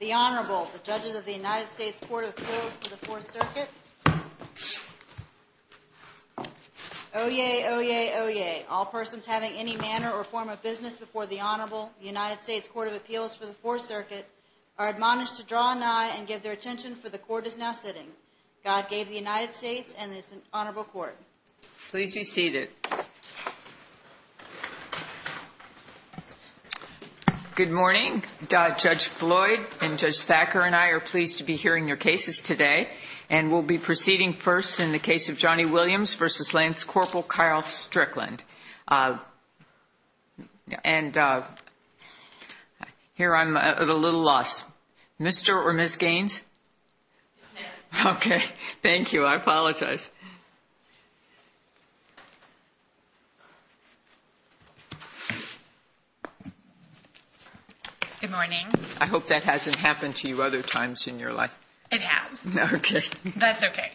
The Honorable, the Judges of the United States Court of Appeals for the Fourth Circuit. Oye, oye, oye, all persons having any manner or form of business before the Honorable United States Court of Appeals for the Fourth Circuit are admonished to draw an eye and give their attention for the Court is now sitting. God gave the United States and this Honorable Court. Please be seated. Good morning. Judge Floyd and Judge Thacker and I are pleased to be hearing your cases today. And we'll be proceeding first in the case of Johnny Williams v. Lance Corporal Kyle Strickland. And here I'm at a little loss. Mr. or Ms. Gaines? Yes. Okay. Thank you. I apologize. Good morning. I hope that hasn't happened to you other times in your life. It has. Okay. That's okay.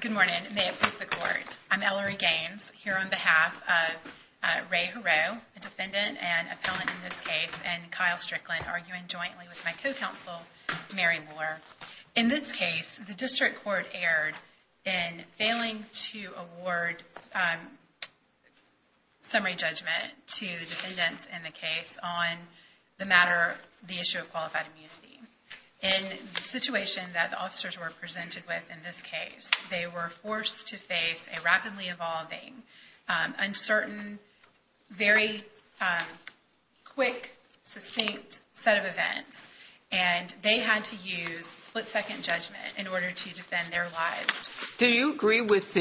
Good morning. May it please the Court. I'm Ellery Gaines here on behalf of Ray Heroux, a defendant and appellant in this case, and Kyle Strickland, arguing jointly with my co-counsel, Mary Moore. In this case, the district court erred in failing to award summary judgment to the defendants in the case on the matter, the issue of qualified immunity. In the situation that the officers were presented with in this case, they were forced to face a rapidly evolving, uncertain, very quick, succinct set of events. And they had to use split-second judgment in order to defend their lives. Do you agree with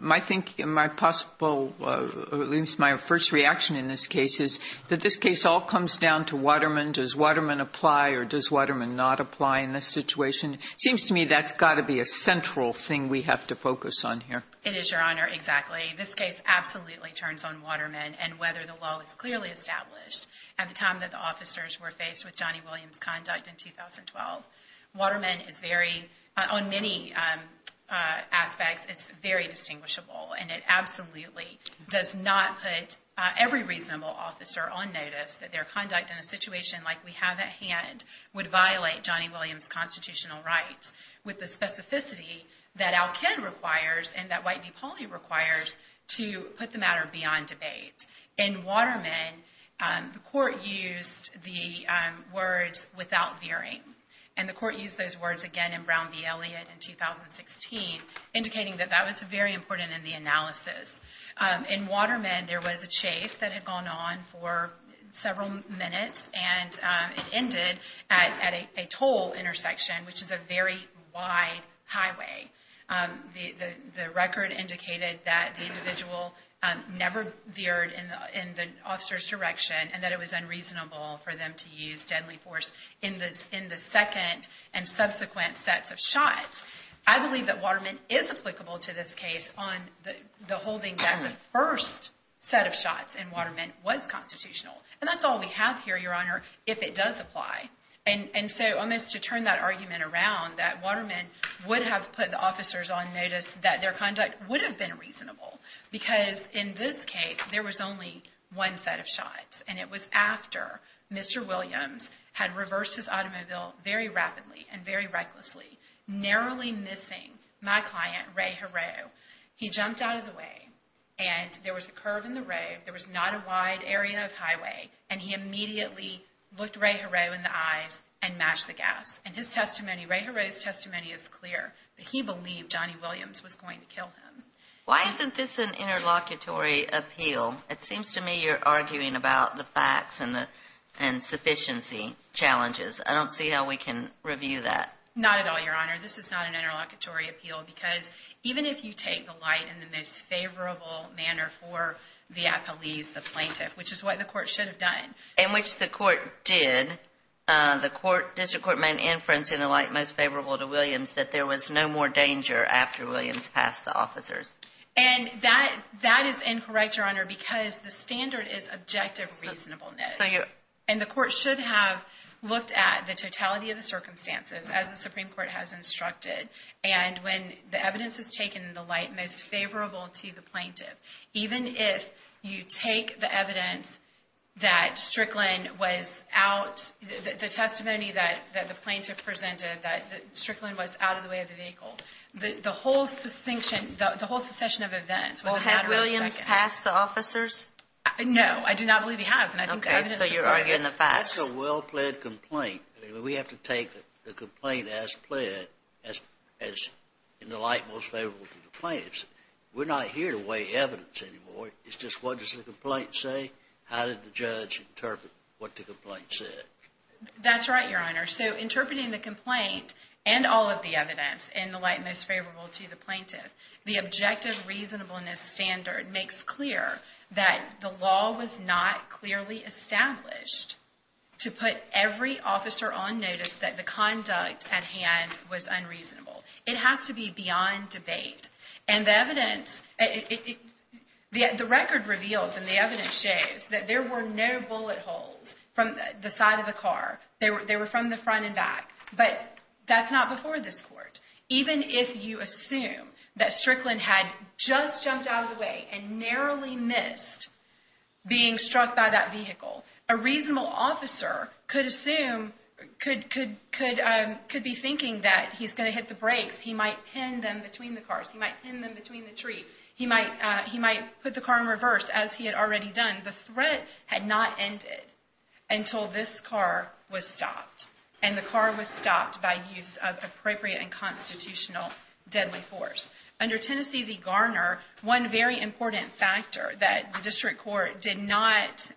my thinking, my possible, at least my first reaction in this case is that this case all comes down to Waterman? Does Waterman apply or does Waterman not apply in this situation? It seems to me that's got to be a central thing we have to focus on here. It is, Your Honor, exactly. This case absolutely turns on Waterman and whether the law is clearly established. At the time that the officers were faced with Johnny Williams' conduct in 2012, Waterman is very, on many aspects, it's very distinguishable. And it absolutely does not put every reasonable officer on notice that their conduct in a situation like we have at hand would violate Johnny Williams' constitutional rights with the specificity that Al-Ked requires and that White v. Pauley requires to put the matter beyond debate. In Waterman, the court used the words, without veering. And the court used those words again in Brown v. Elliott in 2016, indicating that that was very important in the analysis. In Waterman, there was a chase that had gone on for several minutes and it ended at a toll intersection, which is a very wide highway. The record indicated that the individual never veered in the officer's direction and that it was unreasonable for them to use deadly force in the second and subsequent sets of shots. I believe that Waterman is applicable to this case on the holding that the first set of shots in Waterman was constitutional. And that's all we have here, Your Honor, if it does apply. And so, to turn that argument around, that Waterman would have put the officers on notice that their conduct would have been reasonable because, in this case, there was only one set of shots. And it was after Mr. Williams had reversed his automobile very rapidly and very recklessly, narrowly missing my client, Ray Hero. He jumped out of the way and there was a curve in the road. There was not a wide area of highway. And he immediately looked Ray Hero in the eyes and matched the gas. And his testimony, Ray Hero's testimony, is clear that he believed Johnny Williams was going to kill him. Why isn't this an interlocutory appeal? It seems to me you're arguing about the facts and sufficiency challenges. I don't see how we can review that. Not at all, Your Honor. This is not an interlocutory appeal because even if you take the light in the most favorable manner for the appellees, the plaintiff, which is what the court should have done. In which the court did, the district court made an inference in the light most favorable to Williams that there was no more danger after Williams passed the officers. And that is incorrect, Your Honor, because the standard is objective reasonableness. And the court should have looked at the totality of the circumstances as the Supreme Court has instructed. And when the evidence is taken in the light most favorable to the plaintiff, even if you take the evidence that Strickland was out, the testimony that the plaintiff presented that Strickland was out of the way of the vehicle, the whole succession of events was a matter of seconds. Well, had Williams passed the officers? No. I do not believe he has. Okay. So you're arguing the facts? It's a well-pled complaint. We have to take the complaint as pled as in the light most favorable to the plaintiffs. We're not here to weigh evidence anymore. It's just what does the complaint say? How did the judge interpret what the complaint said? That's right, Your Honor. So interpreting the complaint and all of the evidence in the light most favorable to the plaintiff, the objective reasonableness standard makes clear that the law was not clearly established to put every officer on notice that the conduct at hand was unreasonable. It has to be beyond debate. And the evidence, the record reveals and the evidence shows that there were no bullet holes from the side of the car. They were from the front and back. But that's not before this court. Even if you assume that Strickland had just jumped out of the way and narrowly missed being struck by that vehicle, a reasonable officer could assume, could be thinking that he's going to hit the brakes. He might pin them between the cars. He might pin them between the tree. He might put the car in reverse, as he had already done. The threat had not ended until this car was stopped. And the car was stopped by use of appropriate and constitutional deadly force. Under Tennessee v. Garner, one very important factor that the district court did not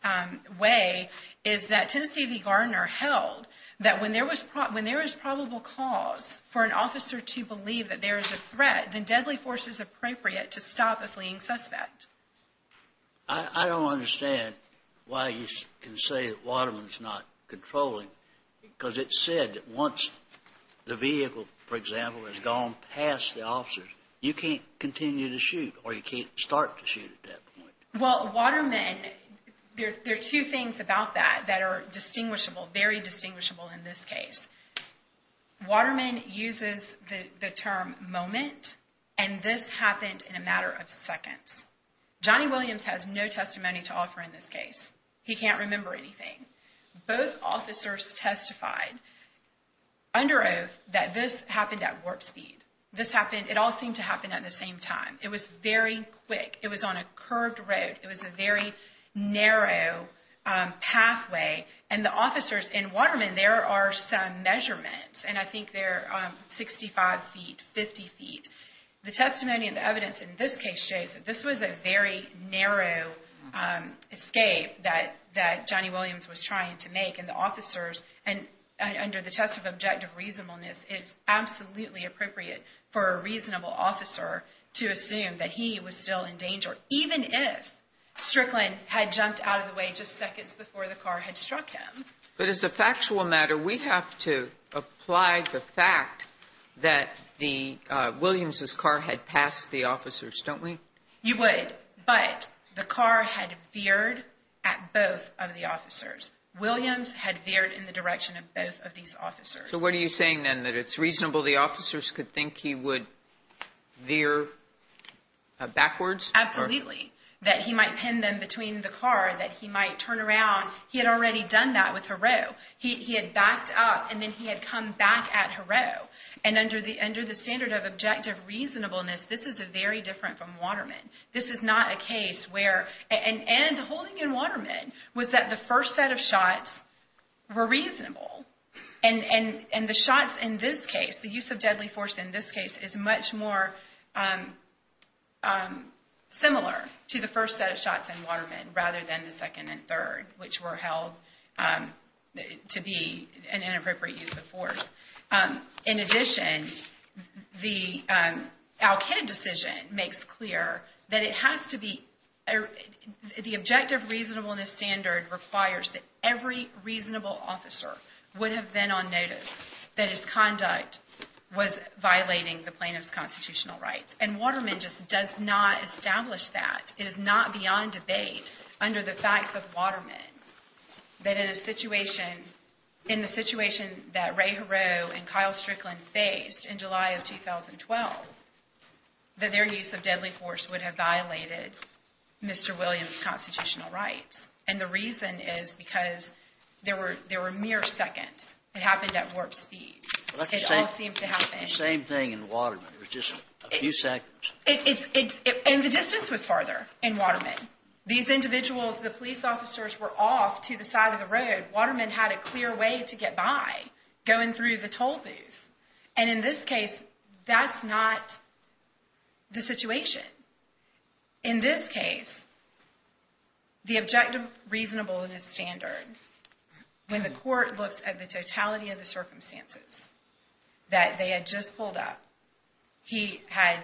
weigh is that Tennessee v. Garner held that when there was probable cause for an officer to believe that there is a threat, then deadly force is appropriate to stop a fleeing suspect. I don't understand why you can say that Waterman's not controlling, because it said that once the vehicle, for example, has gone past the officers, you can't continue to shoot or you can't start to shoot at that point. Well, Waterman, there are two things about that that are distinguishable, very distinguishable in this case. Waterman uses the term moment, and this happened in a matter of seconds. Johnny Williams has no testimony to offer in this case. He can't remember anything. Both officers testified under oath that this happened at warp speed. This happened, it all seemed to happen at the same time. It was very quick. It was on a curved road. It was a very narrow pathway, and the officers in Waterman, there are some measurements, and I think they're 65 feet, 50 feet. The testimony and the evidence in this case shows that this was a very narrow escape that Johnny Williams was trying to make, and the officers, and under the test of objective reasonableness, it is absolutely appropriate for a reasonable officer to assume that he was still in danger, even if Strickland had jumped out of the way just seconds before the car had struck him. But as a factual matter, we have to apply the fact that the Williams' car had passed the officers, don't we? You would, but the car had veered at both of the officers. Williams had veered in the direction of both of these officers. So what are you saying, then, that it's reasonable the officers could think he would veer backwards? Absolutely, that he might pin them between the car, that he might turn around. He had already done that with Heroux. He had backed up, and then he had come back at Heroux, and under the standard of objective reasonableness, this is very different from Waterman. This is not a case where, and the holding in Waterman was that the first set of shots were reasonable, and the shots in this case, the use of deadly force in this case, is much more similar to the first set of shots in Waterman rather than the second and third, which were held to be an inappropriate use of force. In addition, the Al-Kid decision makes clear that it has to be, the objective reasonableness standard requires that every reasonable officer would have been on notice that his conduct was violating the plaintiff's constitutional rights, and Waterman just does not establish that. It is not beyond debate under the facts of Waterman that in a situation, in the situation that Ray Heroux and Kyle Strickland faced in July of 2012, that their use of deadly force would have violated Mr. Williams' constitutional rights, and the reason is because there were mere seconds. It happened at warp speed. It all seemed to happen. The same thing in Waterman. It was just a few seconds. And the distance was farther in Waterman. These individuals, the police officers, were off to the side of the road. Waterman had a clear way to get by going through the toll booth, and in this case, that's not the situation. In this case, the objective reasonableness standard, when the court looks at the totality of the circumstances that they had just pulled up, he had,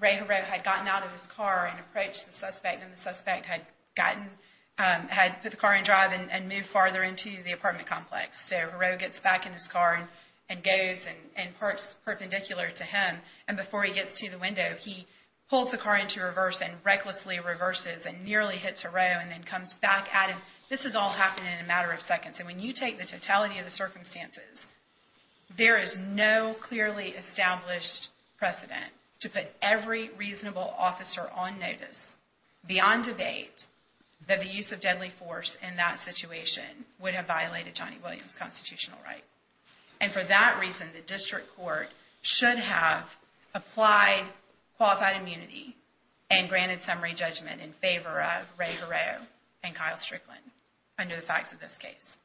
Ray Heroux had gotten out of his car and approached the suspect, and the suspect had gotten, had put the car in drive and moved farther into the apartment complex. So, Heroux gets back in his car and goes and parks perpendicular to him, and before he gets to the window, he pulls the car into reverse and recklessly reverses and nearly hits Heroux and then comes back at him. This has all happened in a matter of seconds, and when you take the totality of the circumstances, there is no clearly established precedent to put every reasonable officer on notice, beyond debate, that the use of deadly force in that situation would have violated Johnny Williams' constitutional right. And for that reason, the district court should have applied qualified immunity and granted summary judgment in favor of Ray Heroux and Kyle Strickland under the facts of this case.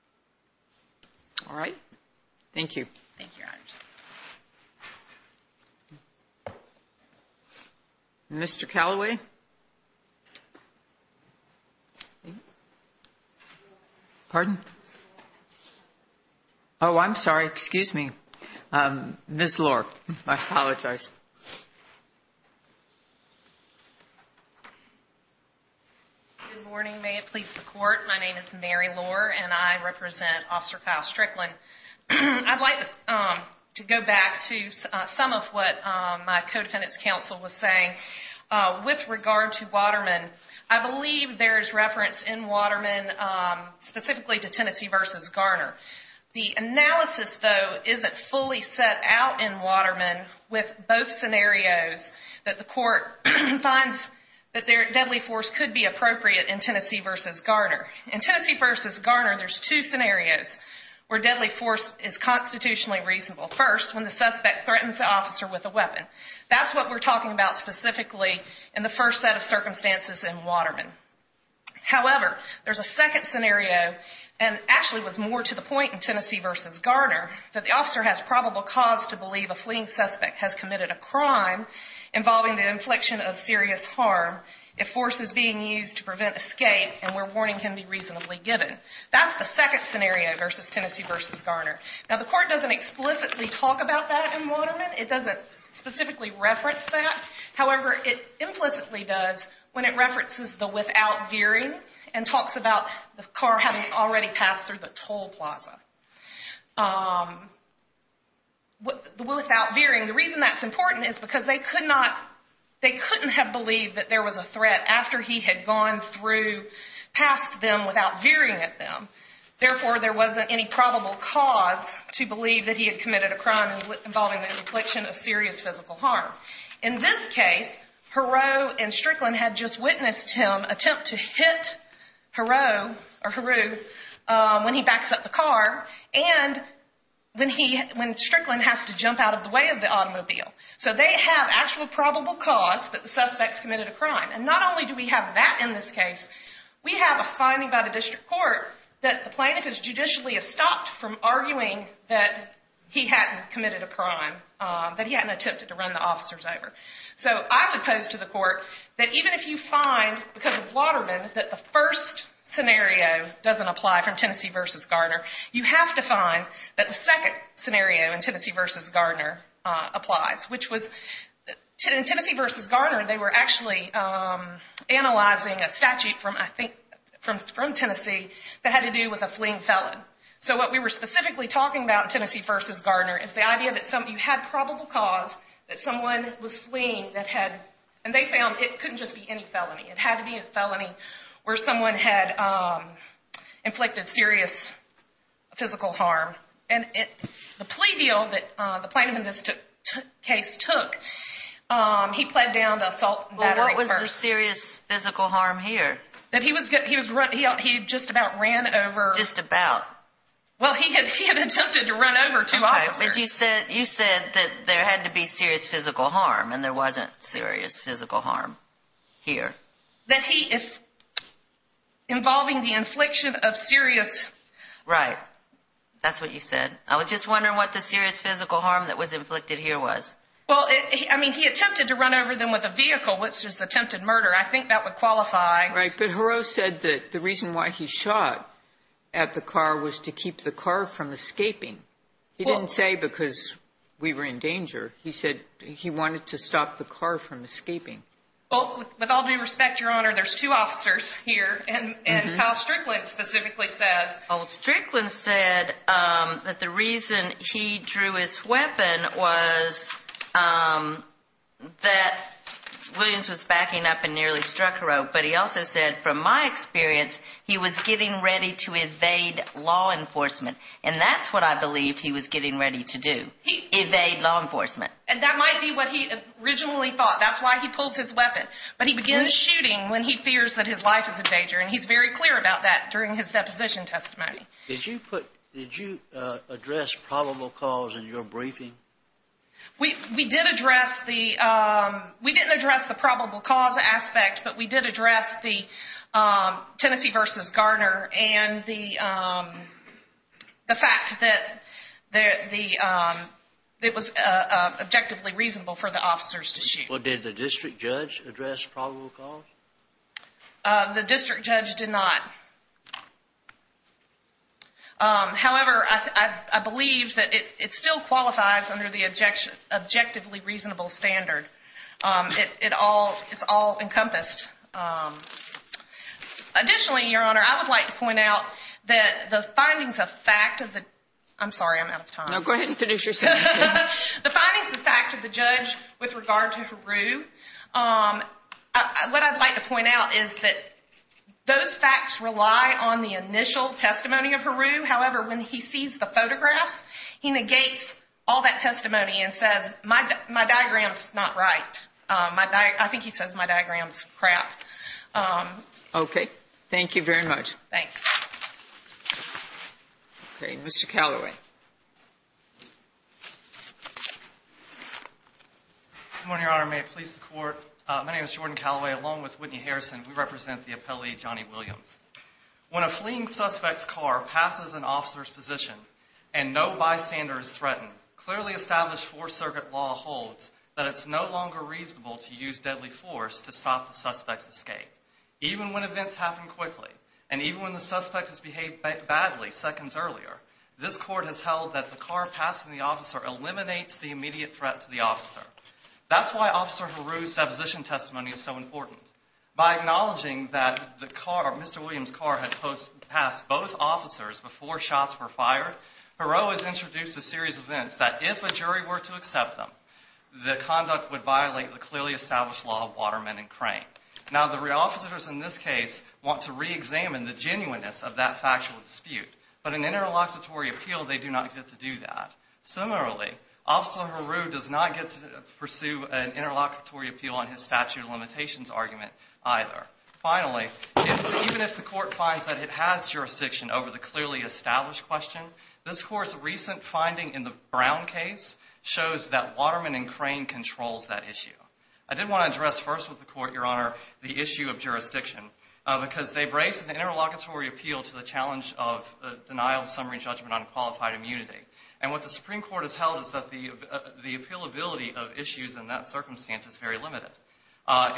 Thank you, Your Honors. Mr. Callaway? Pardon? Oh, I'm sorry. Excuse me. Ms. Lohr, I apologize. Good morning. May it please the Court. My name is Mary Lohr, and I represent Officer Kyle Strickland. I'd like to go back to some of what my co-defendant's counsel was saying. With regard to Waterman, I believe there is reference in Waterman specifically to Tennessee v. Garner. The analysis, though, isn't fully set out in Waterman with both scenarios that the court finds that deadly force could be appropriate in Tennessee v. Garner. In Tennessee v. Garner, there's two scenarios where deadly force is constitutionally reasonable. First, when the suspect threatens the officer with a weapon. That's what we're talking about specifically in the first set of circumstances in Waterman. However, there's a second scenario, and actually was more to the point in Tennessee v. Garner, that the officer has probable cause to believe a fleeing suspect has committed a crime involving the infliction of serious harm if force is being used to prevent escape and where warning can be reasonably given. That's the second scenario versus Tennessee v. Garner. Now, the court doesn't explicitly talk about that in Waterman. It doesn't specifically reference that. However, it implicitly does when it references the without veering and talks about the car having already passed through the toll plaza. Without veering, the reason that's important is because they couldn't have believed that there was a threat after he had gone through past them without veering at them. Therefore, there wasn't any probable cause to believe that he had committed a crime involving the infliction of serious physical harm. In this case, Heroux and Strickland had just witnessed him attempt to hit Heroux when he backs up the car and when Strickland has to jump out of the way of the automobile. So they have actual probable cause that the suspect's committed a crime. And not only do we have that in this case, we have a finding by the district court that the plaintiff is judicially stopped from arguing that he hadn't committed a crime, that he hadn't attempted to run the officers over. So I would pose to the court that even if you find, because of Waterman, you have to find that the second scenario in Tennessee v. Gardner applies. In Tennessee v. Gardner, they were actually analyzing a statute from Tennessee that had to do with a fleeing felon. So what we were specifically talking about in Tennessee v. Gardner is the idea that you had probable cause that someone was fleeing and they found it couldn't just be any felony. It had to be a felony where someone had inflicted serious physical harm. And the plea deal that the plaintiff in this case took, he pled down the assault and battery first. Well, what was the serious physical harm here? That he just about ran over. Just about. Well, he had attempted to run over two officers. But you said that there had to be serious physical harm, and there wasn't serious physical harm here. That he, involving the infliction of serious. Right. That's what you said. I was just wondering what the serious physical harm that was inflicted here was. Well, I mean, he attempted to run over them with a vehicle, which was attempted murder. I think that would qualify. Right, but Haro said that the reason why he shot at the car was to keep the car from escaping. He didn't say because we were in danger. He said he wanted to stop the car from escaping. Well, with all due respect, Your Honor, there's two officers here. And Kyle Strickland specifically says. Well, Strickland said that the reason he drew his weapon was that Williams was backing up and nearly struck Haro. But he also said, from my experience, he was getting ready to evade law enforcement. And that's what I believed he was getting ready to do. Evade law enforcement. And that might be what he originally thought. That's why he pulls his weapon. But he begins shooting when he fears that his life is in danger. And he's very clear about that during his deposition testimony. Did you address probable cause in your briefing? We did address the – we didn't address the probable cause aspect, but we did address the Tennessee versus Garner and the fact that it was objectively reasonable for the officers to shoot. Did the district judge address probable cause? The district judge did not. However, I believe that it still qualifies under the objectively reasonable standard. It's all encompassed. Additionally, Your Honor, I would like to point out that the findings of fact of the – I'm sorry, I'm out of time. No, go ahead and finish your sentence. The findings of fact of the judge with regard to Haro, what I'd like to point out is that those facts rely on the initial testimony of Haro. However, when he sees the photographs, he negates all that testimony and says, my diagram's not right. I think he says my diagram's crap. Okay. Thank you very much. Thanks. Okay, Mr. Callaway. Good morning, Your Honor. May it please the Court. My name is Jordan Callaway, along with Whitney Harrison. We represent the appellee, Johnny Williams. When a fleeing suspect's car passes an officer's position and no bystander is threatened, clearly established Fourth Circuit law holds that it's no longer reasonable to use deadly force to stop the suspect's escape. Even when events happen quickly, and even when the suspect has behaved badly seconds earlier, this Court has held that the car passing the officer eliminates the immediate threat to the officer. That's why Officer Haro's deposition testimony is so important. By acknowledging that the car, Mr. Williams' car, had passed both officers before shots were fired, Haro has introduced a series of events that if a jury were to accept them, the conduct would violate the clearly established law of Waterman and Crane. Now, the officers in this case want to reexamine the genuineness of that factual dispute. But in an interlocutory appeal, they do not get to do that. Similarly, Officer Haro does not get to pursue an interlocutory appeal on his statute of limitations argument either. Finally, even if the Court finds that it has jurisdiction over the clearly established question, this Court's recent finding in the Brown case shows that Waterman and Crane controls that issue. I did want to address first with the Court, Your Honor, the issue of jurisdiction, because they brace an interlocutory appeal to the challenge of the denial of summary judgment on qualified immunity. And what the Supreme Court has held is that the appealability of issues in that circumstance is very limited.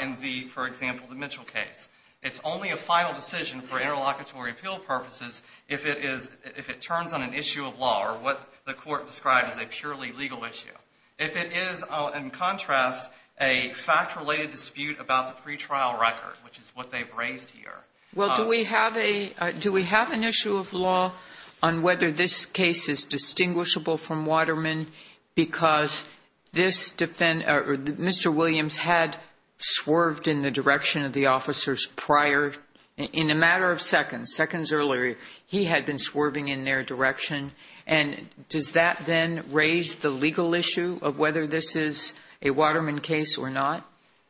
In the, for example, the Mitchell case, it's only a final decision for interlocutory appeal purposes if it turns on an issue of law or what the Court described as a purely legal issue. If it is, in contrast, a fact-related dispute about the pretrial record, which is what they've raised here. Well, do we have an issue of law on whether this case is distinguishable from Waterman because this defendant, or Mr. Williams, had swerved in the direction of the officers prior? In a matter of seconds, seconds earlier, he had been swerving in their direction. And does that then raise the legal issue of whether this is a Waterman case or not?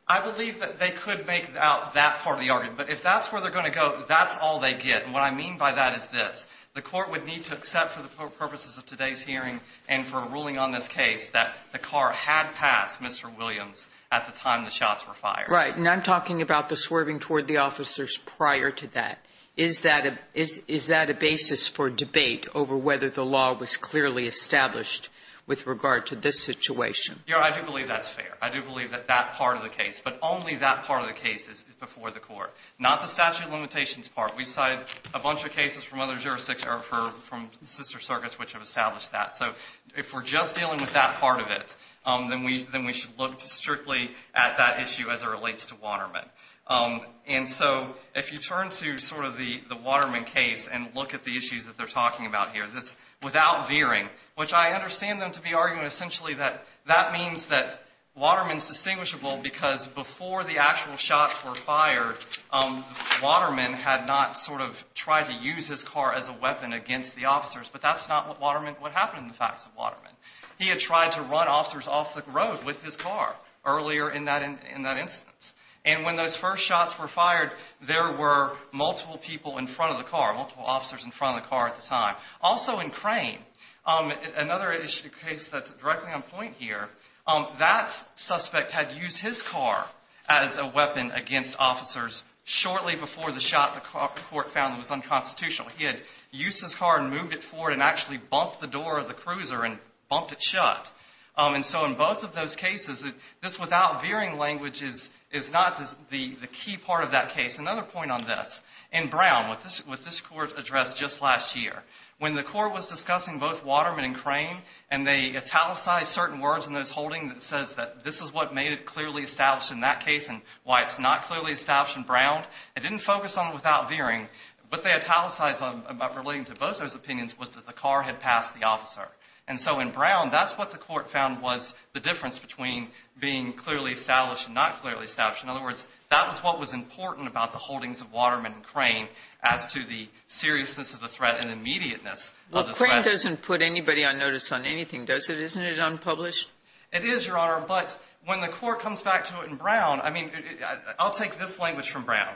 I believe that they could make out that part of the argument. But if that's where they're going to go, that's all they get. And what I mean by that is this. The Court would need to accept for the purposes of today's hearing and for a ruling on this case that the car had passed Mr. Williams at the time the shots were fired. Right. And I'm talking about the swerving toward the officers prior to that. Is that a basis for debate over whether the law was clearly established with regard to this situation? Your Honor, I do believe that's fair. I do believe that that part of the case, but only that part of the case is before the Court, not the statute of limitations part. We cited a bunch of cases from other jurisdictions or from sister circuits which have established that. So if we're just dealing with that part of it, then we should look strictly at that issue as it relates to Waterman. And so if you turn to sort of the Waterman case and look at the issues that they're talking about here, this without veering, which I understand them to be arguing essentially that that means that Waterman is distinguishable because before the case, he had not sort of tried to use his car as a weapon against the officers. But that's not what happened in the facts of Waterman. He had tried to run officers off the road with his car earlier in that instance. And when those first shots were fired, there were multiple people in front of the car, multiple officers in front of the car at the time. Also in Crane, another case that's directly on point here, that suspect had used his car as a weapon against officers shortly before the shot the court found was unconstitutional. He had used his car and moved it forward and actually bumped the door of the cruiser and bumped it shut. And so in both of those cases, this without veering language is not the key part of that case. Another point on this. In Brown, with this court address just last year, when the court was discussing both Waterman and Crane and they italicized certain words in those holdings that this is what made it clearly established in that case and why it's not clearly established in Brown, it didn't focus on it without veering. What they italicized relating to both those opinions was that the car had passed the officer. And so in Brown, that's what the court found was the difference between being clearly established and not clearly established. In other words, that was what was important about the holdings of Waterman and Crane as to the seriousness of the threat and the immediateness of the threat. Well, Crane doesn't put anybody on notice on anything, does it? Isn't it unpublished? It is, Your Honor. But when the court comes back to it in Brown, I mean, I'll take this language from Brown,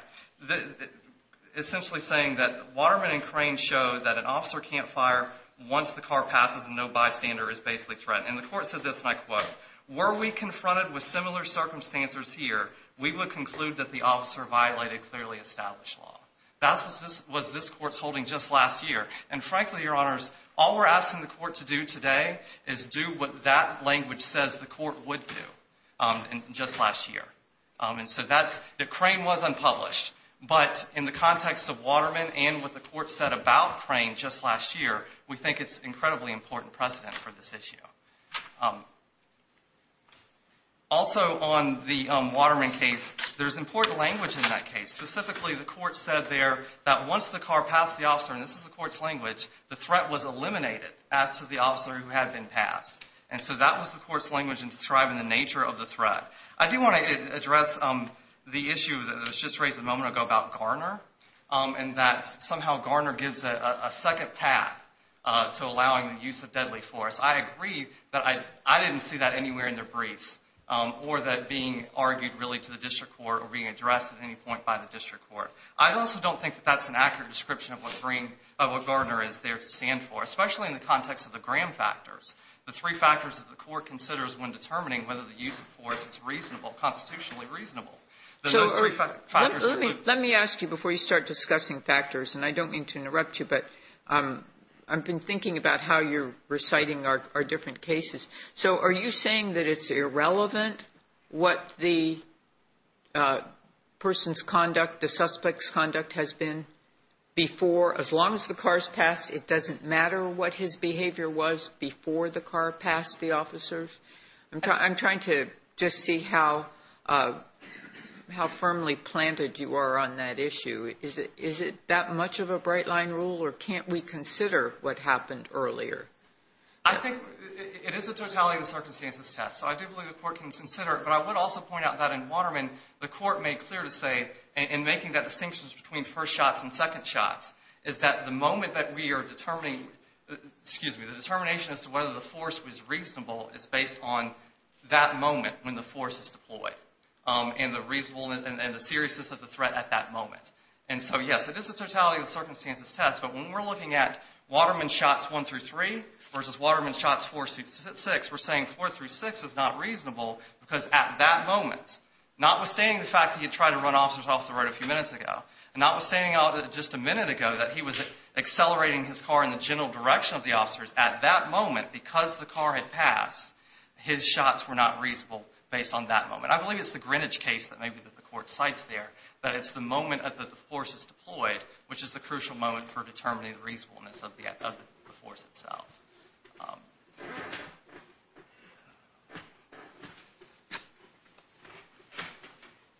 essentially saying that Waterman and Crane showed that an officer can't fire once the car passes and no bystander is basically threatened. And the court said this, and I quote, Were we confronted with similar circumstances here, we would conclude that the officer violated clearly established law. That was this court's holding just last year. And frankly, Your Honors, all we're asking the court to do today is do what that language says the court would do just last year. And so that's, Crane was unpublished. But in the context of Waterman and what the court said about Crane just last year, we think it's incredibly important precedent for this issue. Also on the Waterman case, there's important language in that case. Specifically, the court said there that once the car passed the officer, and this is the court's language, the threat was eliminated as to the officer who had been passed. And so that was the court's language in describing the nature of the threat. I do want to address the issue that was just raised a moment ago about Garner and that somehow Garner gives a second path to allowing the use of deadly force. I agree that I didn't see that anywhere in their briefs or that being argued really to the district court or being addressed at any point by the district court. I also don't think that that's an accurate description of what Garner is there to stand for, especially in the context of the Graham factors, the three factors that the court considers when determining whether the use of force is reasonable, constitutionally reasonable. Then those three factors are included. Sotomayor, let me ask you before you start discussing factors, and I don't mean to interrupt you, but I've been thinking about how you're reciting our different cases. So are you saying that it's irrelevant what the person's conduct, the suspect's behavior was before the car passed the officers? I'm trying to just see how firmly planted you are on that issue. Is it that much of a bright-line rule, or can't we consider what happened earlier? I think it is the totality of the circumstances test, so I do believe the court can consider it. But I would also point out that in Waterman, the court made clear to say in making that distinction between first shots and second shots is that the moment that we are determining, excuse me, the determination as to whether the force was reasonable is based on that moment when the force is deployed and the seriousness of the threat at that moment. So yes, it is the totality of the circumstances test, but when we're looking at Waterman shots one through three versus Waterman shots four through six, we're saying four through six is not reasonable because at that moment, notwithstanding the fact that he had tried to run officers off the road a few minutes ago, and notwithstanding just a minute ago that he was accelerating his car in the general direction of the officers, at that moment, because the car had passed, his shots were not reasonable based on that moment. I believe it's the Greenwich case that maybe the court cites there, that it's the moment that the force is deployed, which is the crucial moment for determining the reasonableness of the force itself.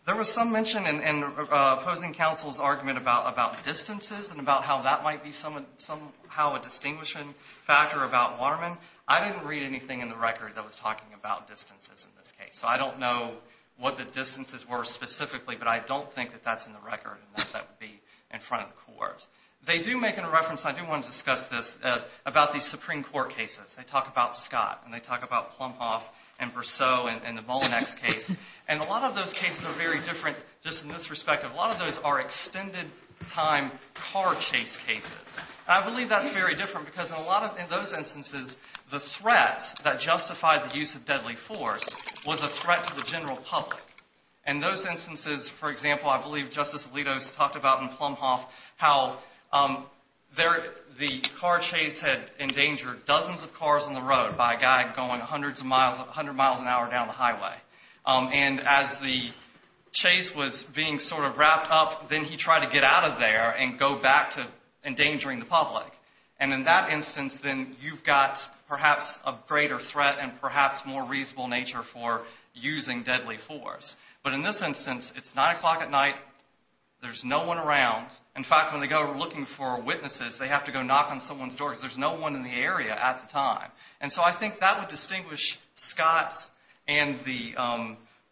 There was some mention in opposing counsel's argument about distances and about how that might be somehow a distinguishing factor about Waterman. I didn't read anything in the record that was talking about distances in this case, so I don't know what the distances were specifically, but I don't think that that's in the record and that that would be in front of the court. They do make a reference, and I do want to discuss this, about these Supreme Court cases. They talk about Scott, and they talk about Plumhoff and Berceau and the Mullinex case, and a lot of those cases are very different just in this respect. A lot of those are extended-time car chase cases. I believe that's very different because in those instances, the threat that justified the use of deadly force was a threat to the general public. In those instances, for example, I believe Justice Alito's talked about in Plumhoff how the car chase had endangered dozens of cars on the road by a guy going hundreds of miles, 100 miles an hour down the highway. And as the chase was being sort of wrapped up, then he tried to get out of there and go back to endangering the public. And in that instance, then you've got perhaps a greater threat and perhaps more reasonable nature for using deadly force. But in this instance, it's 9 o'clock at night, there's no one around. In fact, when they go looking for witnesses, they have to go knock on someone's door because there's no one in the area at the time. And so I think that would distinguish Scott's and the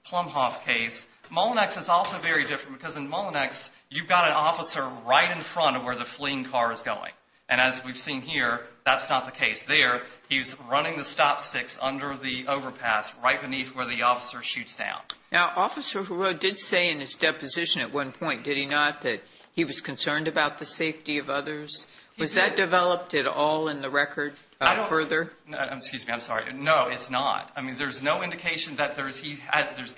Plumhoff case. Mullinex is also very different because in Mullinex, you've got an officer right in front of where the fleeing car is going. And as we've seen here, that's not the case there. He's running the stop sticks under the overpass right beneath where the officer shoots down. Now, Officer Huro did say in his deposition at one point, did he not, that he was concerned about the safety of others? Was that developed at all in the record further? Excuse me, I'm sorry. No, it's not. I mean, there's no indication that there's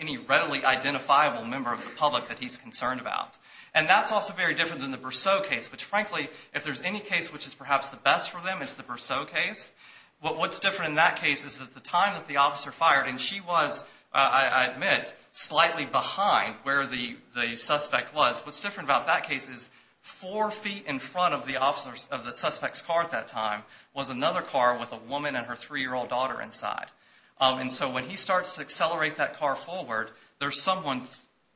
any readily identifiable member of the public that he's concerned about. And that's also very different than the Berceau case, which frankly if there's any case which is perhaps the best for them, it's the Berceau case. What's different in that case is at the time that the officer fired, and she was, I admit, slightly behind where the suspect was, what's different about that case is four feet in front of the suspect's car at that time was another car with a woman and her three-year-old daughter inside. And so when he starts to accelerate that car forward, there's someone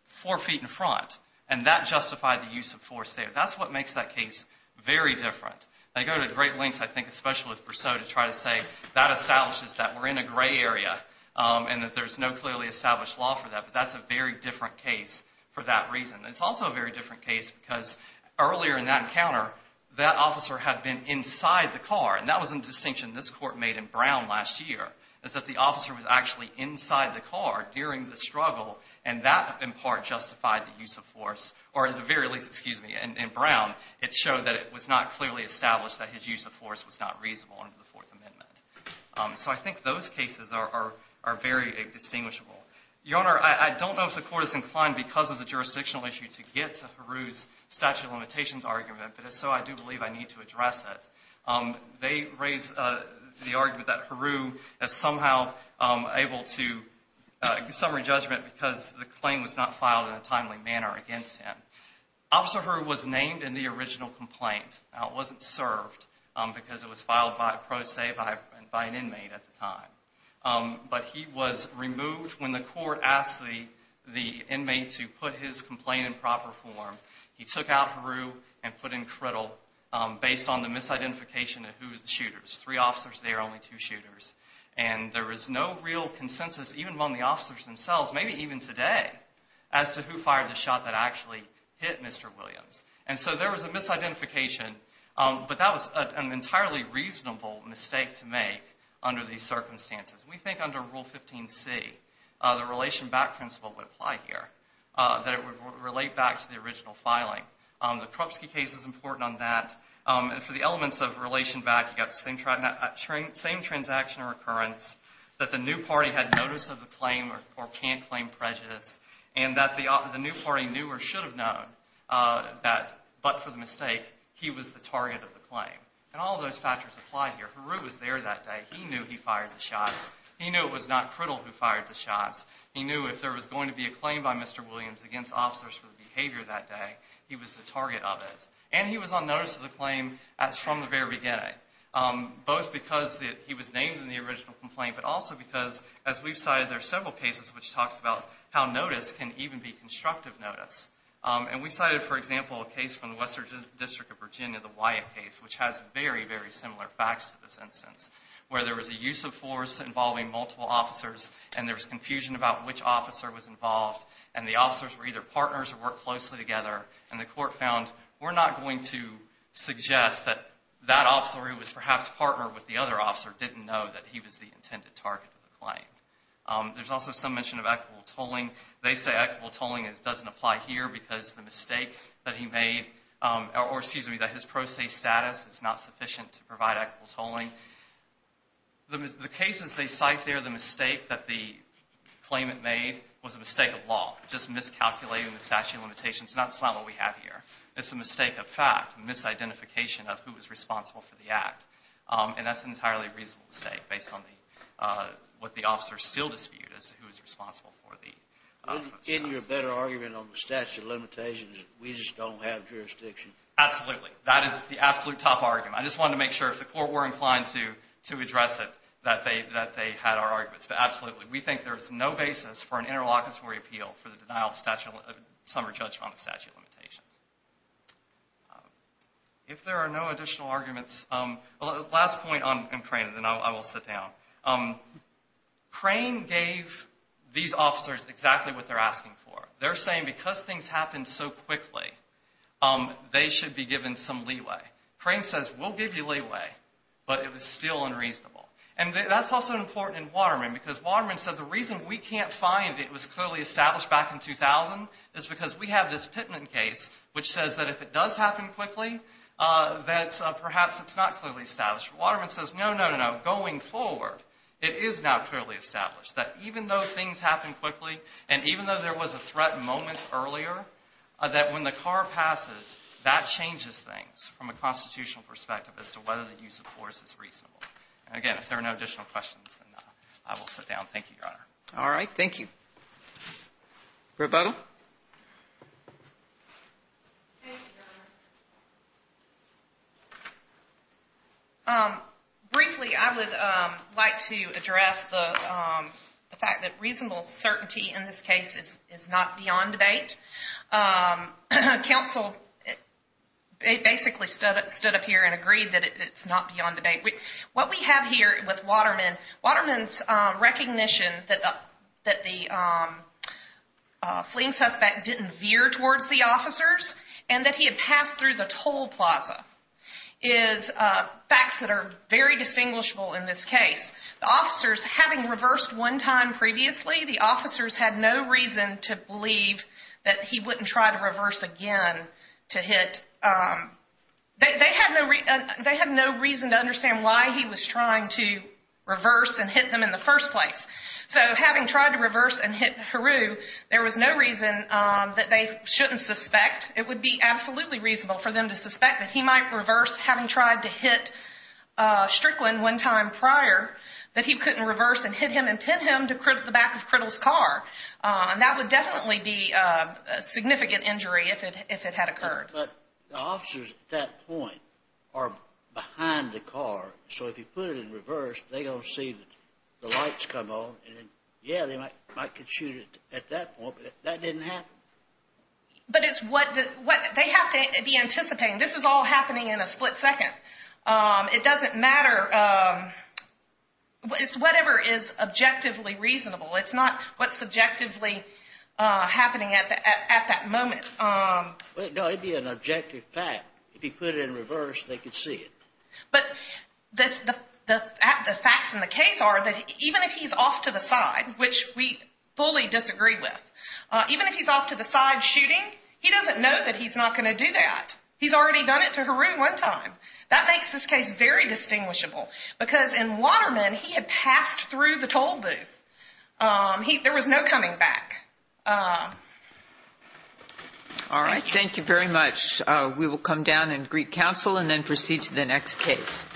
four feet in front. And that justified the use of force there. That's what makes that case very different. I go to great lengths, I think, especially with Berceau, to try to say that establishes that we're in a gray area and that there's no clearly established law for that. But that's a very different case for that reason. It's also a very different case because earlier in that encounter, that officer had been inside the car, and that was a distinction this Court made in Brown last year, is that the officer was actually inside the car during the struggle, and that in part justified the use of force, or at the very least, excuse me, in Brown, it showed that it was not clearly established that his use of force was not reasonable under the Fourth Amendment. So I think those cases are very indistinguishable. Your Honor, I don't know if the Court is inclined, because of the jurisdictional issue, to get to Heroux's statute of limitations argument, but if so, I do believe I need to address it. They raise the argument that Heroux is somehow able to get summary judgment because the claim was not filed in a timely manner against him. Officer Heroux was named in the original complaint. Now, it wasn't served because it was filed, pro se, by an inmate at the time. But he was removed when the Court asked the inmate to put his complaint in proper form. He took out Heroux and put him in cradle based on the misidentification of who was the shooters. Three officers there, only two shooters. And there was no real consensus, even among the officers themselves, maybe even today, as to who fired the shot that actually hit Mr. Williams. And so there was a misidentification, but that was an entirely reasonable mistake to make under these circumstances. We think under Rule 15c, the relation back principle would apply here, that it would relate back to the original filing. The Krupski case is important on that. And for the elements of relation back, you've got the same transaction recurrence, that the new party had notice of the claim or can't claim prejudice, and that the new party knew or should have known that, but for the mistake, he was the target of the claim. And all of those factors apply here. Heroux was there that day. He knew he fired the shots. He knew it was not Criddle who fired the shots. He knew if there was going to be a claim by Mr. Williams against officers for the behavior that day, he was the target of it. And he was on notice of the claim as from the very beginning, both because he was named in the original complaint, but also because, as we've cited, there are several cases which talks about how notice can even be constructive notice. And we cited, for example, a case from the Western District of Virginia, the Wyatt case, which has very, very similar facts to this instance, where there was a use of force involving multiple officers, and there was confusion about which officer was involved, and the officers were either partners or worked closely together, and the court found we're not going to suggest that that officer, who was perhaps a partner with the other officer, didn't know that he was the intended target of the claim. There's also some mention of equitable tolling. They say equitable tolling doesn't apply here because the mistake that he made or, excuse me, that his pro se status, it's not sufficient to provide equitable tolling. The cases they cite there, the mistake that the claimant made was a mistake of law, just miscalculating the statute of limitations. That's not what we have here. It's a mistake of fact, a misidentification of who was responsible for the act. And that's an entirely reasonable mistake based on what the officers still dispute as to who was responsible for the act. Isn't there a better argument on the statute of limitations if we just don't have jurisdiction? Absolutely. That is the absolute top argument. I just wanted to make sure if the court were inclined to address it, that they had our arguments. But absolutely, we think there is no basis for an interlocutory appeal for the denial of summary judgment on the statute of limitations. If there are no additional arguments, the last point on Crane, and then I will sit down. Crane gave these officers exactly what they're asking for. They're saying because things happened so quickly, they should be given some leeway. Crane says, we'll give you leeway, but it was still unreasonable. And that's also important in Waterman, because Waterman said, the reason we can't find it was clearly established back in 2000 is because we have this Pittman case which says that if it does happen quickly, that perhaps it's not clearly established. Waterman says, no, no, no, no. Going forward, it is now clearly established that even though things happen quickly and even though there was a threat moments earlier, that when the car passes, that changes things from a constitutional perspective as to whether the use of force is reasonable. Again, if there are no additional questions, I will sit down. Thank you, Your Honor. All right. Thank you. Rebuttal. Briefly, I would like to address the fact that reasonable certainty in this case is not beyond debate. Counsel basically stood up here and agreed that it's not beyond debate. What we have here with Waterman, Waterman's recognition that the fleeing suspect didn't veer towards the officers and that he had passed through the toll plaza, is facts that are very distinguishable in this case. The officers, having reversed one time previously, the officers had no reason to believe that he wouldn't try to reverse again to hit. They had no reason to understand why he was trying to reverse and hit them in the first place. So having tried to reverse and hit Heru, there was no reason that they shouldn't suspect. It would be absolutely reasonable for them to suspect that he might reverse, having tried to hit Strickland one time prior, that he couldn't reverse and hit him and pin him to the back of Crittle's car. That would definitely be a significant injury if it had occurred. But the officers at that point are behind the car, so if you put it in reverse, they're going to see the lights come on, and yeah, they might consider it at that point, but that didn't happen. But it's what they have to be anticipating. This is all happening in a split second. It doesn't matter. It's whatever is objectively reasonable. It's not what's subjectively happening at that moment. No, it would be an objective fact. If you put it in reverse, they could see it. But the facts in the case are that even if he's off to the side, which we fully disagree with, even if he's off to the side shooting, he doesn't know that he's not going to do that. He's already done it to Heru one time. That makes this case very distinguishable because in Waterman, he had passed through the toll booth. There was no coming back. All right. Thank you very much. We will come down and greet counsel and then proceed to the next case.